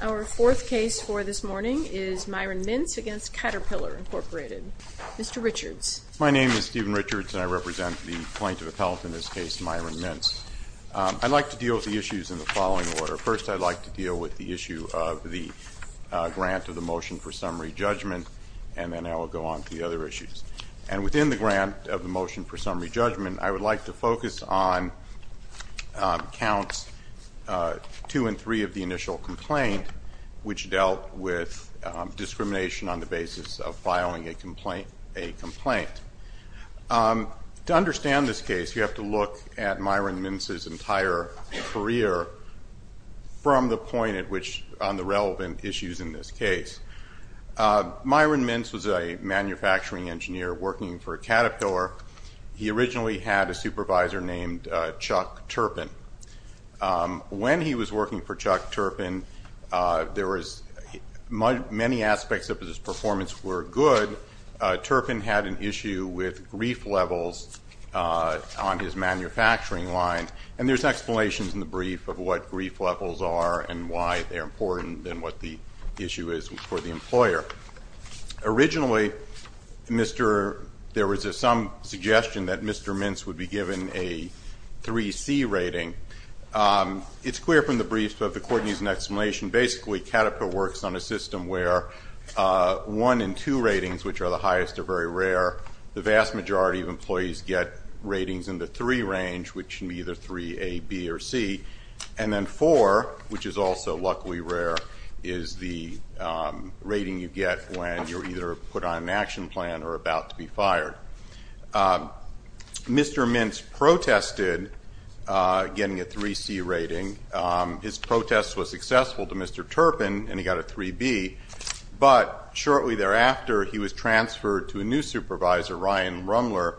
Our fourth case for this morning is Myron Mintz v. Caterpillar Inc. Mr. Richards. My name is Stephen Richards, and I represent the plaintiff appellate in this case, Myron Mintz. I'd like to deal with the issues in the following order. First, I'd like to deal with the issue of the grant of the motion for summary judgment, and then I will go on to the other issues. And within the grant of the motion for summary judgment, I would like to focus on counts 2 and 3 of the initial complaint, which dealt with discrimination on the basis of filing a complaint. To understand this case, you have to look at Myron Mintz's entire career from the point at which on the relevant issues in this case. Myron Mintz was a manufacturing engineer working for Caterpillar. He originally had a supervisor named Chuck Turpin. When he was working for Chuck Turpin, many aspects of his performance were good. Turpin had an issue with grief levels on his manufacturing line, and there's explanations in the brief of what grief levels are and why they're important and what the issue is for the employer. Originally, there was some suggestion that Mr. Mintz would be given a 3C rating. It's clear from the brief that the court needs an explanation. Basically, Caterpillar works on a system where 1 and 2 ratings, which are the highest, are very rare. The vast majority of employees get ratings in the 3 range, which can be either 3A, B, or C. And then 4, which is also luckily rare, is the rating you get when you're either put on an action plan or about to be fired. Mr. Mintz protested getting a 3C rating. His protest was successful to Mr. Turpin, and he got a 3B. But shortly thereafter, he was transferred to a new supervisor, Ryan Rumler,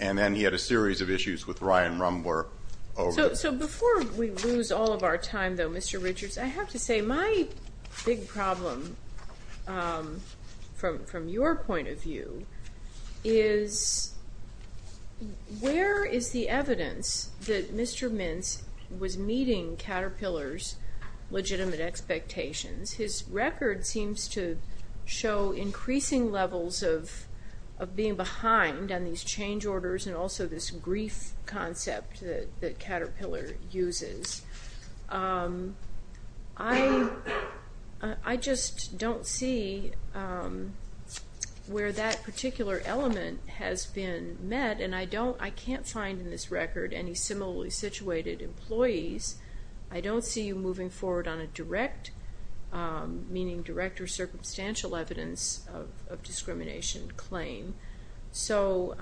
and then he had a series of issues with Ryan Rumler. So before we lose all of our time, though, Mr. Richards, I have to say my big problem, from your point of view, is where is the evidence that Mr. Mintz was meeting Caterpillar's legitimate expectations? His record seems to show increasing levels of being behind on these change orders and also this grief concept that Caterpillar uses. I just don't see where that particular element has been met, and I can't find in this record any similarly situated employees. I don't see you moving forward on a direct, meaning direct or circumstantial, evidence of discrimination claim. So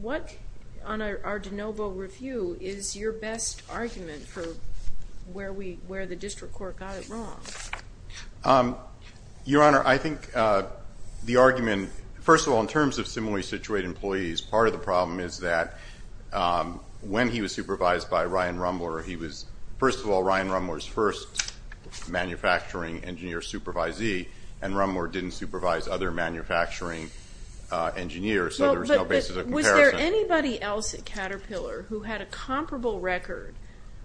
what, on our de novo review, is your best argument for where the district court got it wrong? Your Honor, I think the argument, first of all, in terms of similarly situated employees, part of the problem is that when he was supervised by Ryan Rumler, he was, first of all, Ryan Rumler's first manufacturing engineer supervisee, and Rumler didn't supervise other manufacturing engineers. So there's no basis of comparison. But was there anybody else at Caterpillar who had a comparable record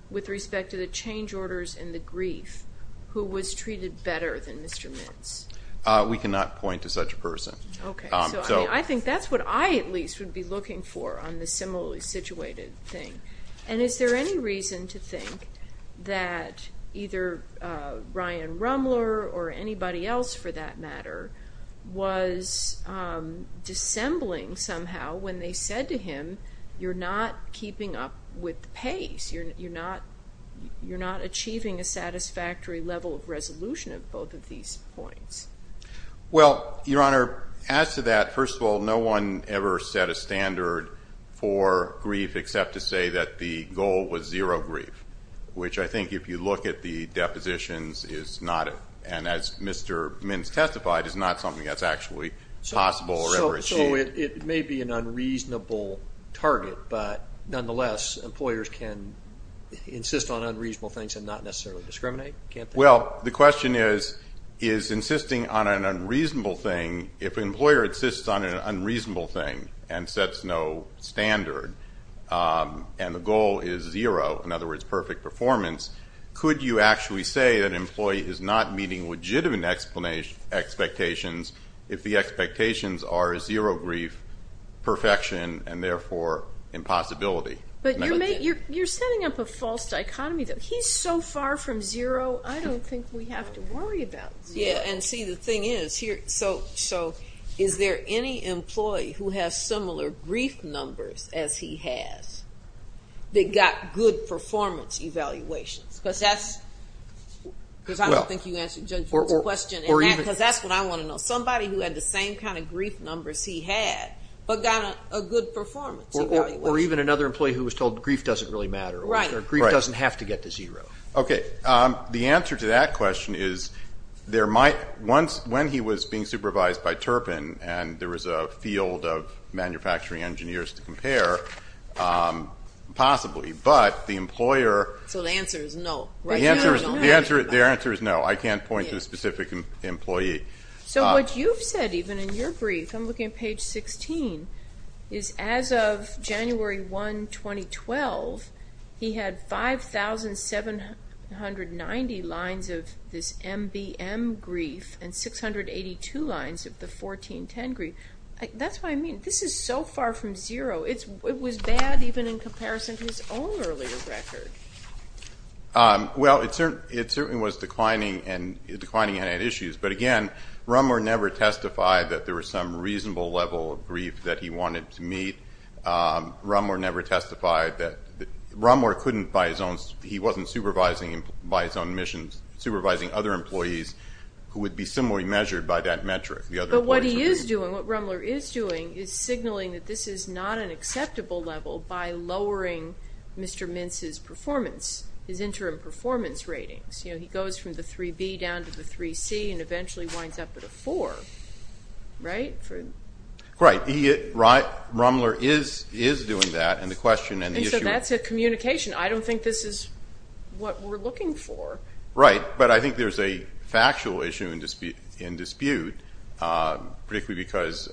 with respect to the change orders and the grief who was treated better than Mr. Mintz? We cannot point to such a person. Okay. So I think that's what I, at least, would be looking for on the similarly situated thing. And is there any reason to think that either Ryan Rumler or anybody else, for that matter, was dissembling somehow when they said to him, you're not keeping up with the pace, you're not achieving a satisfactory level of resolution of both of these points? Well, Your Honor, as to that, first of all, no one ever set a standard for grief except to say that the goal was zero grief, which I think if you look at the depositions is not, and as Mr. Mintz testified, is not something that's actually possible or ever achieved. So it may be an unreasonable target, but nonetheless employers can insist on unreasonable things and not necessarily discriminate? Well, the question is, is insisting on an unreasonable thing, if an employer insists on an unreasonable thing and sets no standard and the goal is zero, in other words, perfect performance, could you actually say that an employee is not meeting legitimate expectations if the expectations are zero grief, perfection, and therefore impossibility? But you're setting up a false dichotomy. He's so far from zero, I don't think we have to worry about zero. Yeah, and see, the thing is here, so is there any employee who has similar grief numbers as he has that got good performance evaluations? Because I don't think you answered Judge Wood's question. Because that's what I want to know. Somebody who had the same kind of grief numbers he had but got a good performance evaluation. Or even another employee who was told grief doesn't really matter or grief doesn't have to get to zero. Okay. The answer to that question is there might, when he was being supervised by Turpin and there was a field of manufacturing engineers to compare, possibly. But the employer. So the answer is no. The answer is no. I can't point to a specific employee. So what you've said even in your brief, I'm looking at page 16, is as of January 1, 2012, he had 5,790 lines of this MBM grief and 682 lines of the 1410 grief. That's what I mean. This is so far from zero. It was bad even in comparison to his own earlier record. Well, it certainly was declining and had issues. But, again, Rumler never testified that there was some reasonable level of grief that he wanted to meet. Rumler never testified that Rumler couldn't by his own, he wasn't supervising by his own admissions, supervising other employees who would be similarly measured by that metric. But what he is doing, what Rumler is doing, is signaling that this is not an acceptable level by lowering Mr. Mintz's performance, his interim performance ratings. He goes from the 3B down to the 3C and eventually winds up at a 4, right? Right. Rumler is doing that. And so that's a communication. I don't think this is what we're looking for. Right. But I think there's a factual issue in dispute, particularly because...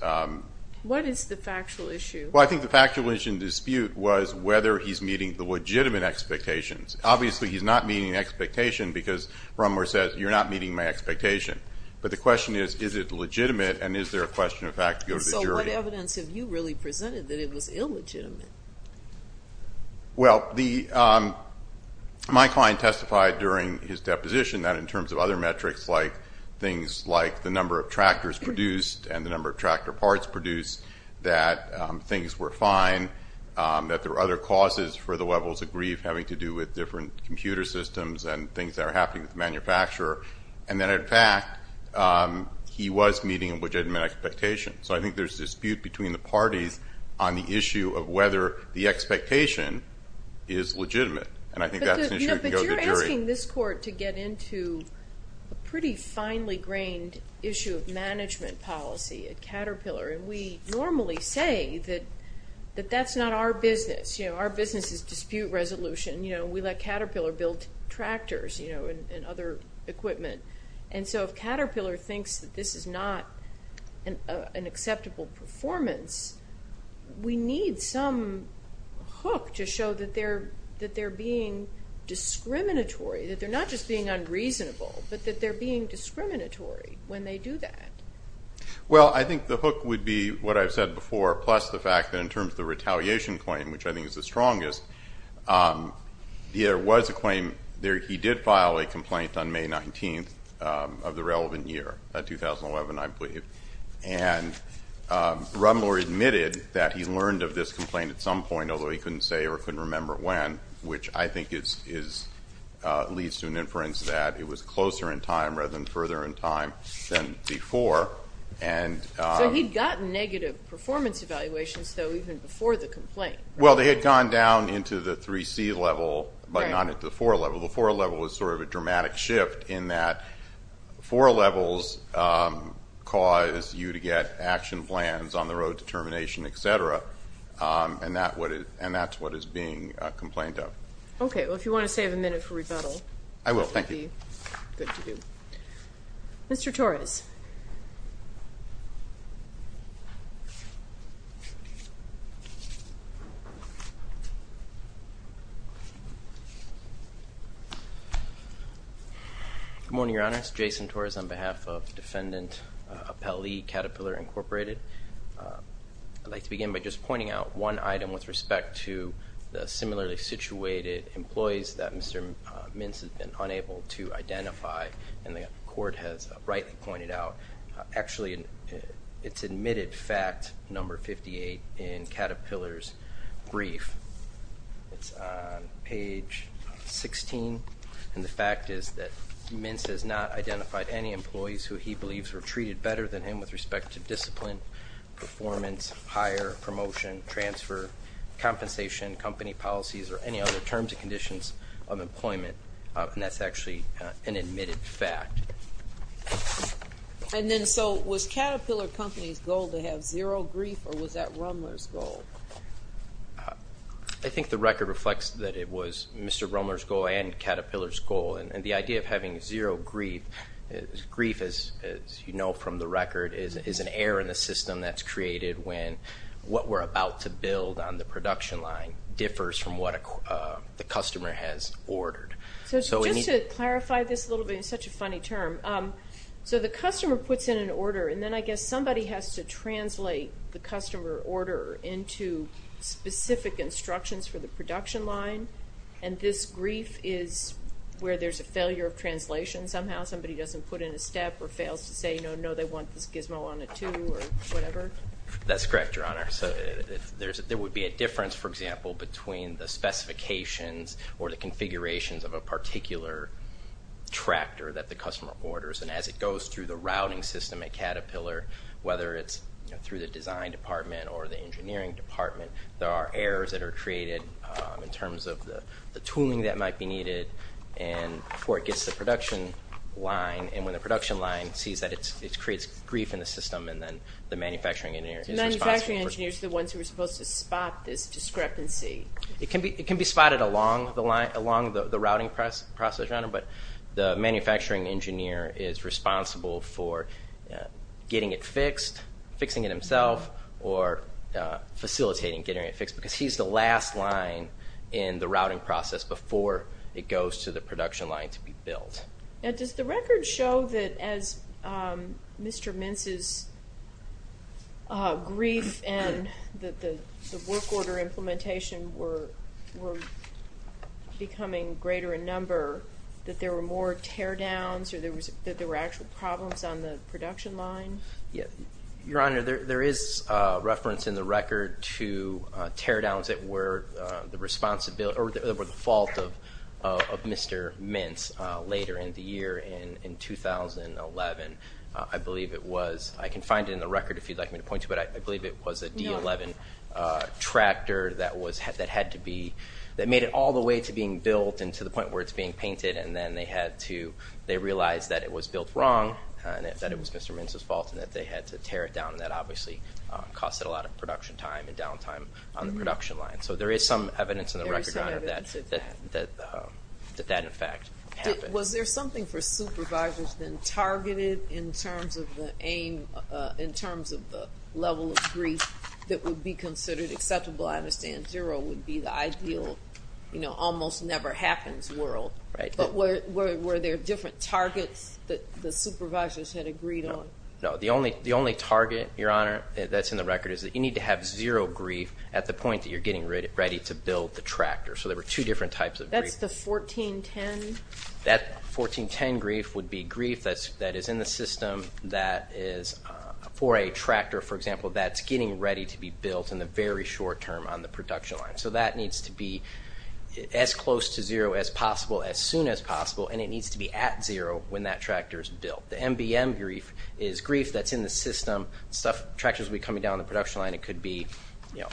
What is the factual issue? Well, I think the factual issue in dispute was whether he's meeting the legitimate expectations. Obviously, he's not meeting the expectation because Rumler says, you're not meeting my expectation. But the question is, is it legitimate, and is there a question of fact to go to the jury? So what evidence have you really presented that it was illegitimate? Well, my client testified during his deposition that in terms of other metrics, like things like the number of tractors produced and the number of tractor parts produced, that things were fine, that there were other causes for the levels of grief having to do with different computer systems and things that are happening with the manufacturer. And then, in fact, he was meeting a legitimate expectation. So I think there's a dispute between the parties on the issue of whether the expectation is legitimate. And I think that's an issue that can go to the jury. But you're asking this court to get into a pretty finely grained issue of management policy at Caterpillar. And we normally say that that's not our business. Our business is dispute resolution. We let Caterpillar build tractors and other equipment. And so if Caterpillar thinks that this is not an acceptable performance, we need some hook to show that they're being discriminatory, that they're not just being unreasonable, but that they're being discriminatory when they do that. Well, I think the hook would be what I've said before, plus the fact that in terms of the retaliation claim, which I think is the strongest, there was a claim that he did file a complaint on May 19th of the relevant year, 2011, I believe. And Rumler admitted that he learned of this complaint at some point, although he couldn't say or couldn't remember when, which I think leads to an inference that it was closer in time rather than further in time than before. So he'd gotten negative performance evaluations, though, even before the complaint. Well, they had gone down into the 3C level, but not into the 4A level. The 4A level was sort of a dramatic shift in that 4A levels cause you to get action plans, on-the-road determination, et cetera, and that's what is being complained of. Okay. Well, if you want to save a minute for rebuttal, that would be good to do. I will. Thank you. Mr. Torres. Good morning, Your Honors. Jason Torres on behalf of Defendant Appellee Caterpillar Incorporated. I'd like to begin by just pointing out one item with respect to the similarly situated employees that Mr. Cord has rightly pointed out. Actually, it's admitted fact, number 58, in Caterpillar's brief. It's on page 16, and the fact is that Mince has not identified any employees who he believes were treated better than him with respect to discipline, performance, hire, promotion, transfer, compensation, company policies, or any other terms and conditions of employment. And that's actually an admitted fact. And then so was Caterpillar Company's goal to have zero grief, or was that Rumler's goal? I think the record reflects that it was Mr. Rumler's goal and Caterpillar's goal. And the idea of having zero grief, grief, as you know from the record, is an error in the system that's created when what we're about to build on the production line differs from what the customer has ordered. So just to clarify this a little bit, it's such a funny term. So the customer puts in an order, and then I guess somebody has to translate the customer order into specific instructions for the production line. And this grief is where there's a failure of translation somehow. Somebody doesn't put in a step or fails to say, no, no, they want this gizmo on a two or whatever. That's correct, Your Honor. So there would be a difference, for example, between the specifications or the configurations of a particular tractor that the customer orders. And as it goes through the routing system at Caterpillar, whether it's through the design department or the engineering department, there are errors that are created in terms of the tooling that might be needed before it gets to the production line. And when the production line sees that, it creates grief in the system, and then the manufacturing engineer is responsible. So the manufacturing engineer is the ones who are supposed to spot this discrepancy. It can be spotted along the routing process, Your Honor, but the manufacturing engineer is responsible for getting it fixed, fixing it himself, or facilitating getting it fixed because he's the last line in the routing process before it goes to the production line to be built. Now, does the record show that as Mr. Mintz's grief and the work order implementation were becoming greater in number, that there were more teardowns or that there were actual problems on the production line? Your Honor, there is reference in the record to teardowns that were the fault of Mr. Mintz later in the year in 2011. I believe it was, I can find it in the record if you'd like me to point to it, but I believe it was a D11 tractor that made it all the way to being built and to the point where it's being painted, and then they had to, they realized that it was built wrong and that it was Mr. Mintz's fault and that they had to tear it down and that obviously costed a lot of production time and downtime on the production line. So there is some evidence in the record, Your Honor, that that in fact happened. Was there something for supervisors then targeted in terms of the aim, in terms of the level of grief that would be considered acceptable? I understand zero would be the ideal, you know, almost never happens world. But were there different targets that the supervisors had agreed on? No, the only target, Your Honor, that's in the record is that you need to have zero grief at the point that you're getting ready to build the tractor. So there were two different types of grief. That's the 1410? That 1410 grief would be grief that is in the system that is for a tractor, for example, that's getting ready to be built in the very short term on the production line. So that needs to be as close to zero as possible, as soon as possible, and it needs to be at zero when that tractor is built. The MBM grief is grief that's in the system. Tractors will be coming down on the production line. It could be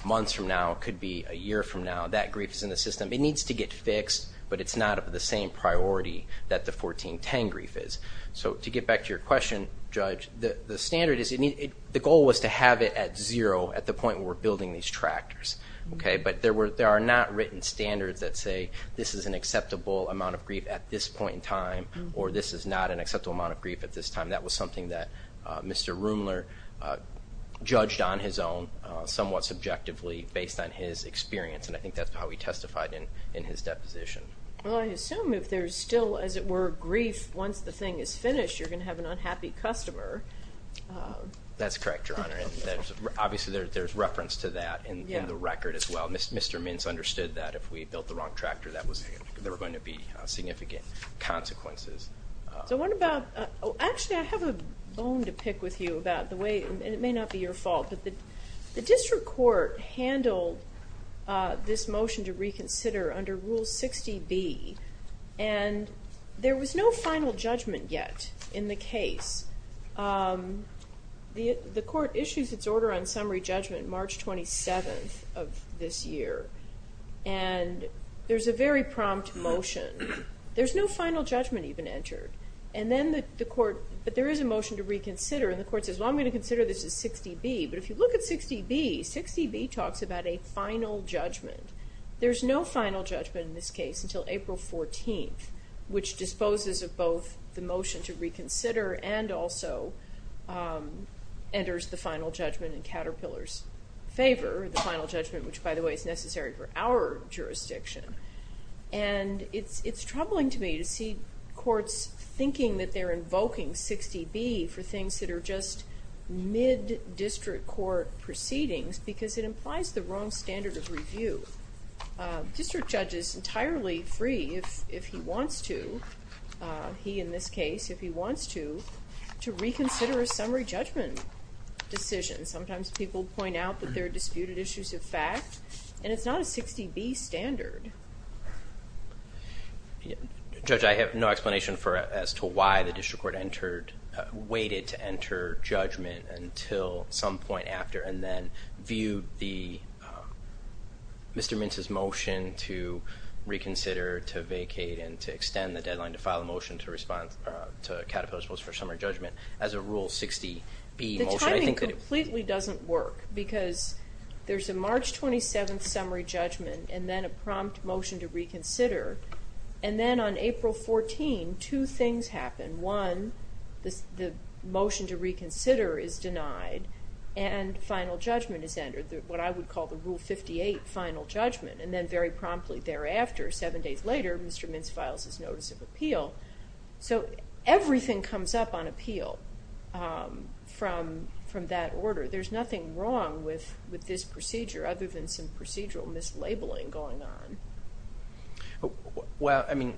months from now. It could be a year from now. That grief is in the system. It needs to get fixed, but it's not of the same priority that the 1410 grief is. So to get back to your question, Judge, the standard is the goal was to have it at zero at the point where we're building these tractors, but there are not written standards that say this is an acceptable amount of grief at this point in time or this is not an acceptable amount of grief at this time. That was something that Mr. Rumler judged on his own somewhat subjectively based on his experience, and I think that's how he testified in his deposition. Well, I assume if there's still, as it were, grief once the thing is finished, you're going to have an unhappy customer. That's correct, Your Honor, and obviously there's reference to that in the record as well. Mr. Mintz understood that if we built the wrong tractor there were going to be significant consequences. So what about – actually, I have a bone to pick with you about the way, and it may not be your fault, but the district court handled this motion to reconsider under Rule 60B, and there was no final judgment yet in the case. The court issues its order on summary judgment March 27th of this year, and there's a very prompt motion. There's no final judgment even entered, and then the court – but there is a motion to reconsider, and the court says, well, I'm going to consider this as 60B, but if you look at 60B, 60B talks about a final judgment. There's no final judgment in this case until April 14th, which disposes of both the motion to reconsider and also enters the final judgment in Caterpillar's favor, the final judgment which, by the way, is necessary for our jurisdiction. And it's troubling to me to see courts thinking that they're invoking 60B for things that are just mid-district court proceedings because it implies the wrong standard of review. A district judge is entirely free if he wants to – he, in this case, if he wants to – to reconsider a summary judgment decision. Sometimes people point out that there are disputed issues of fact, and it's not a 60B standard. Judge, I have no explanation as to why the district court entered – waited to enter judgment until some point after and then viewed the – Mr. Mintz's motion to reconsider, to vacate, and to extend the deadline to file a motion to respond to Caterpillar's post for summary judgment as a rule 60B motion. The timing completely doesn't work because there's a March 27th summary judgment and then a prompt motion to reconsider, and then on April 14, two things happen. One, the motion to reconsider is denied and final judgment is entered, what I would call the Rule 58 final judgment, and then very promptly thereafter, seven days later, Mr. Mintz files his notice of appeal. So everything comes up on appeal from that order. There's nothing wrong with this procedure other than some procedural mislabeling going on. Well, I mean,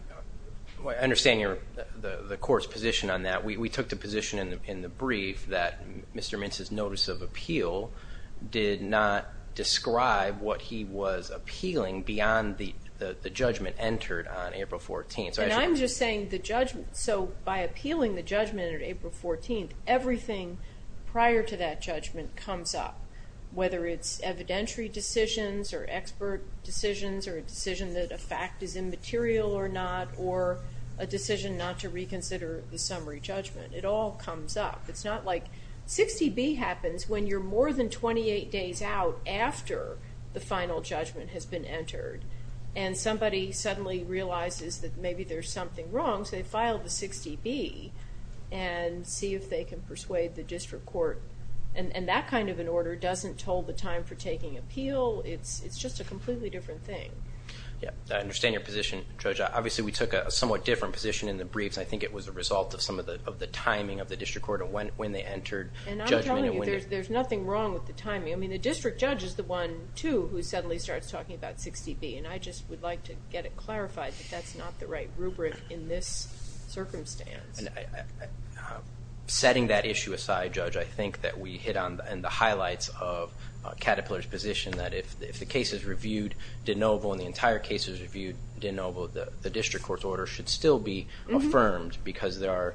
I understand the court's position on that. We took the position in the brief that Mr. Mintz's notice of appeal did not describe what he was appealing beyond the judgment entered on April 14th. And I'm just saying the judgment – so by appealing the judgment on April 14th, everything prior to that judgment comes up, whether it's evidentiary decisions or expert decisions or a decision that a fact is immaterial or not or a decision not to reconsider the summary judgment. It all comes up. It's not like – 60B happens when you're more than 28 days out after the final judgment has been entered and somebody suddenly realizes that maybe there's something wrong. So they file the 60B and see if they can persuade the district court. And that kind of an order doesn't toll the time for taking appeal. It's just a completely different thing. Yeah, I understand your position, Judge. Obviously, we took a somewhat different position in the briefs. I think it was a result of some of the timing of the district court and when they entered judgment. And I'm telling you, there's nothing wrong with the timing. I mean, the district judge is the one, too, who suddenly starts talking about 60B, and I just would like to get it clarified that that's not the right rubric in this circumstance. Setting that issue aside, Judge, I think that we hit on the highlights of Caterpillar's position that if the case is reviewed de novo and the entire case is reviewed de novo, the district court's order should still be affirmed because there are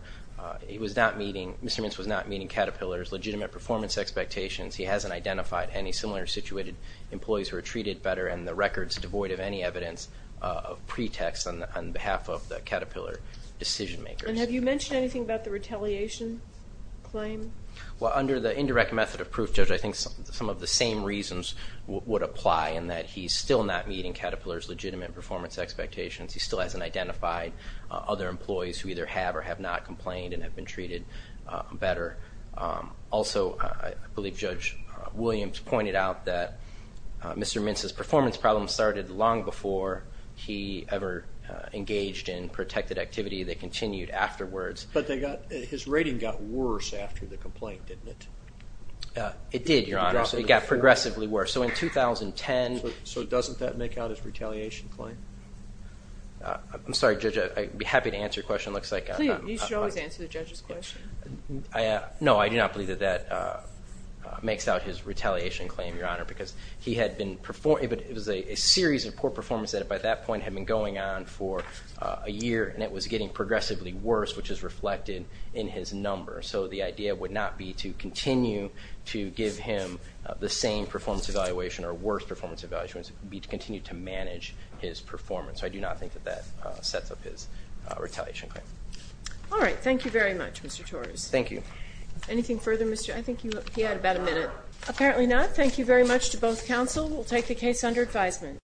– he was not meeting – Mr. Mintz was not meeting Caterpillar's legitimate performance expectations. He hasn't identified any similar situated employees who are treated better and the record's devoid of any evidence of pretext on behalf of the Caterpillar decision makers. And have you mentioned anything about the retaliation claim? Well, under the indirect method of proof, Judge, I think some of the same reasons would apply in that he's still not meeting Caterpillar's legitimate performance expectations. He still hasn't identified other employees who either have or have not complained and have been treated better. Also, I believe Judge Williams pointed out that Mr. Mintz's performance problems started long before he ever engaged in protected activity. They continued afterwards. But they got – his rating got worse after the complaint, didn't it? It did, Your Honor. So it got progressively worse. So in 2010 – So doesn't that make out his retaliation claim? I'm sorry, Judge. I'd be happy to answer your question. It looks like – Please, you should always answer the judge's question. No, I do not believe that that makes out his retaliation claim, Your Honor, because he had been – it was a series of poor performance that by that point had been going on for a year, and it was getting progressively worse, which is reflected in his number. So the idea would not be to continue to give him the same performance evaluation or worse performance evaluation. It would be to continue to manage his performance. So I do not think that that sets up his retaliation claim. All right. Thank you very much, Mr. Torres. Thank you. Anything further, Mr. – I think he had about a minute. Apparently not. Thank you very much to both counsel. We'll take the case under advisement.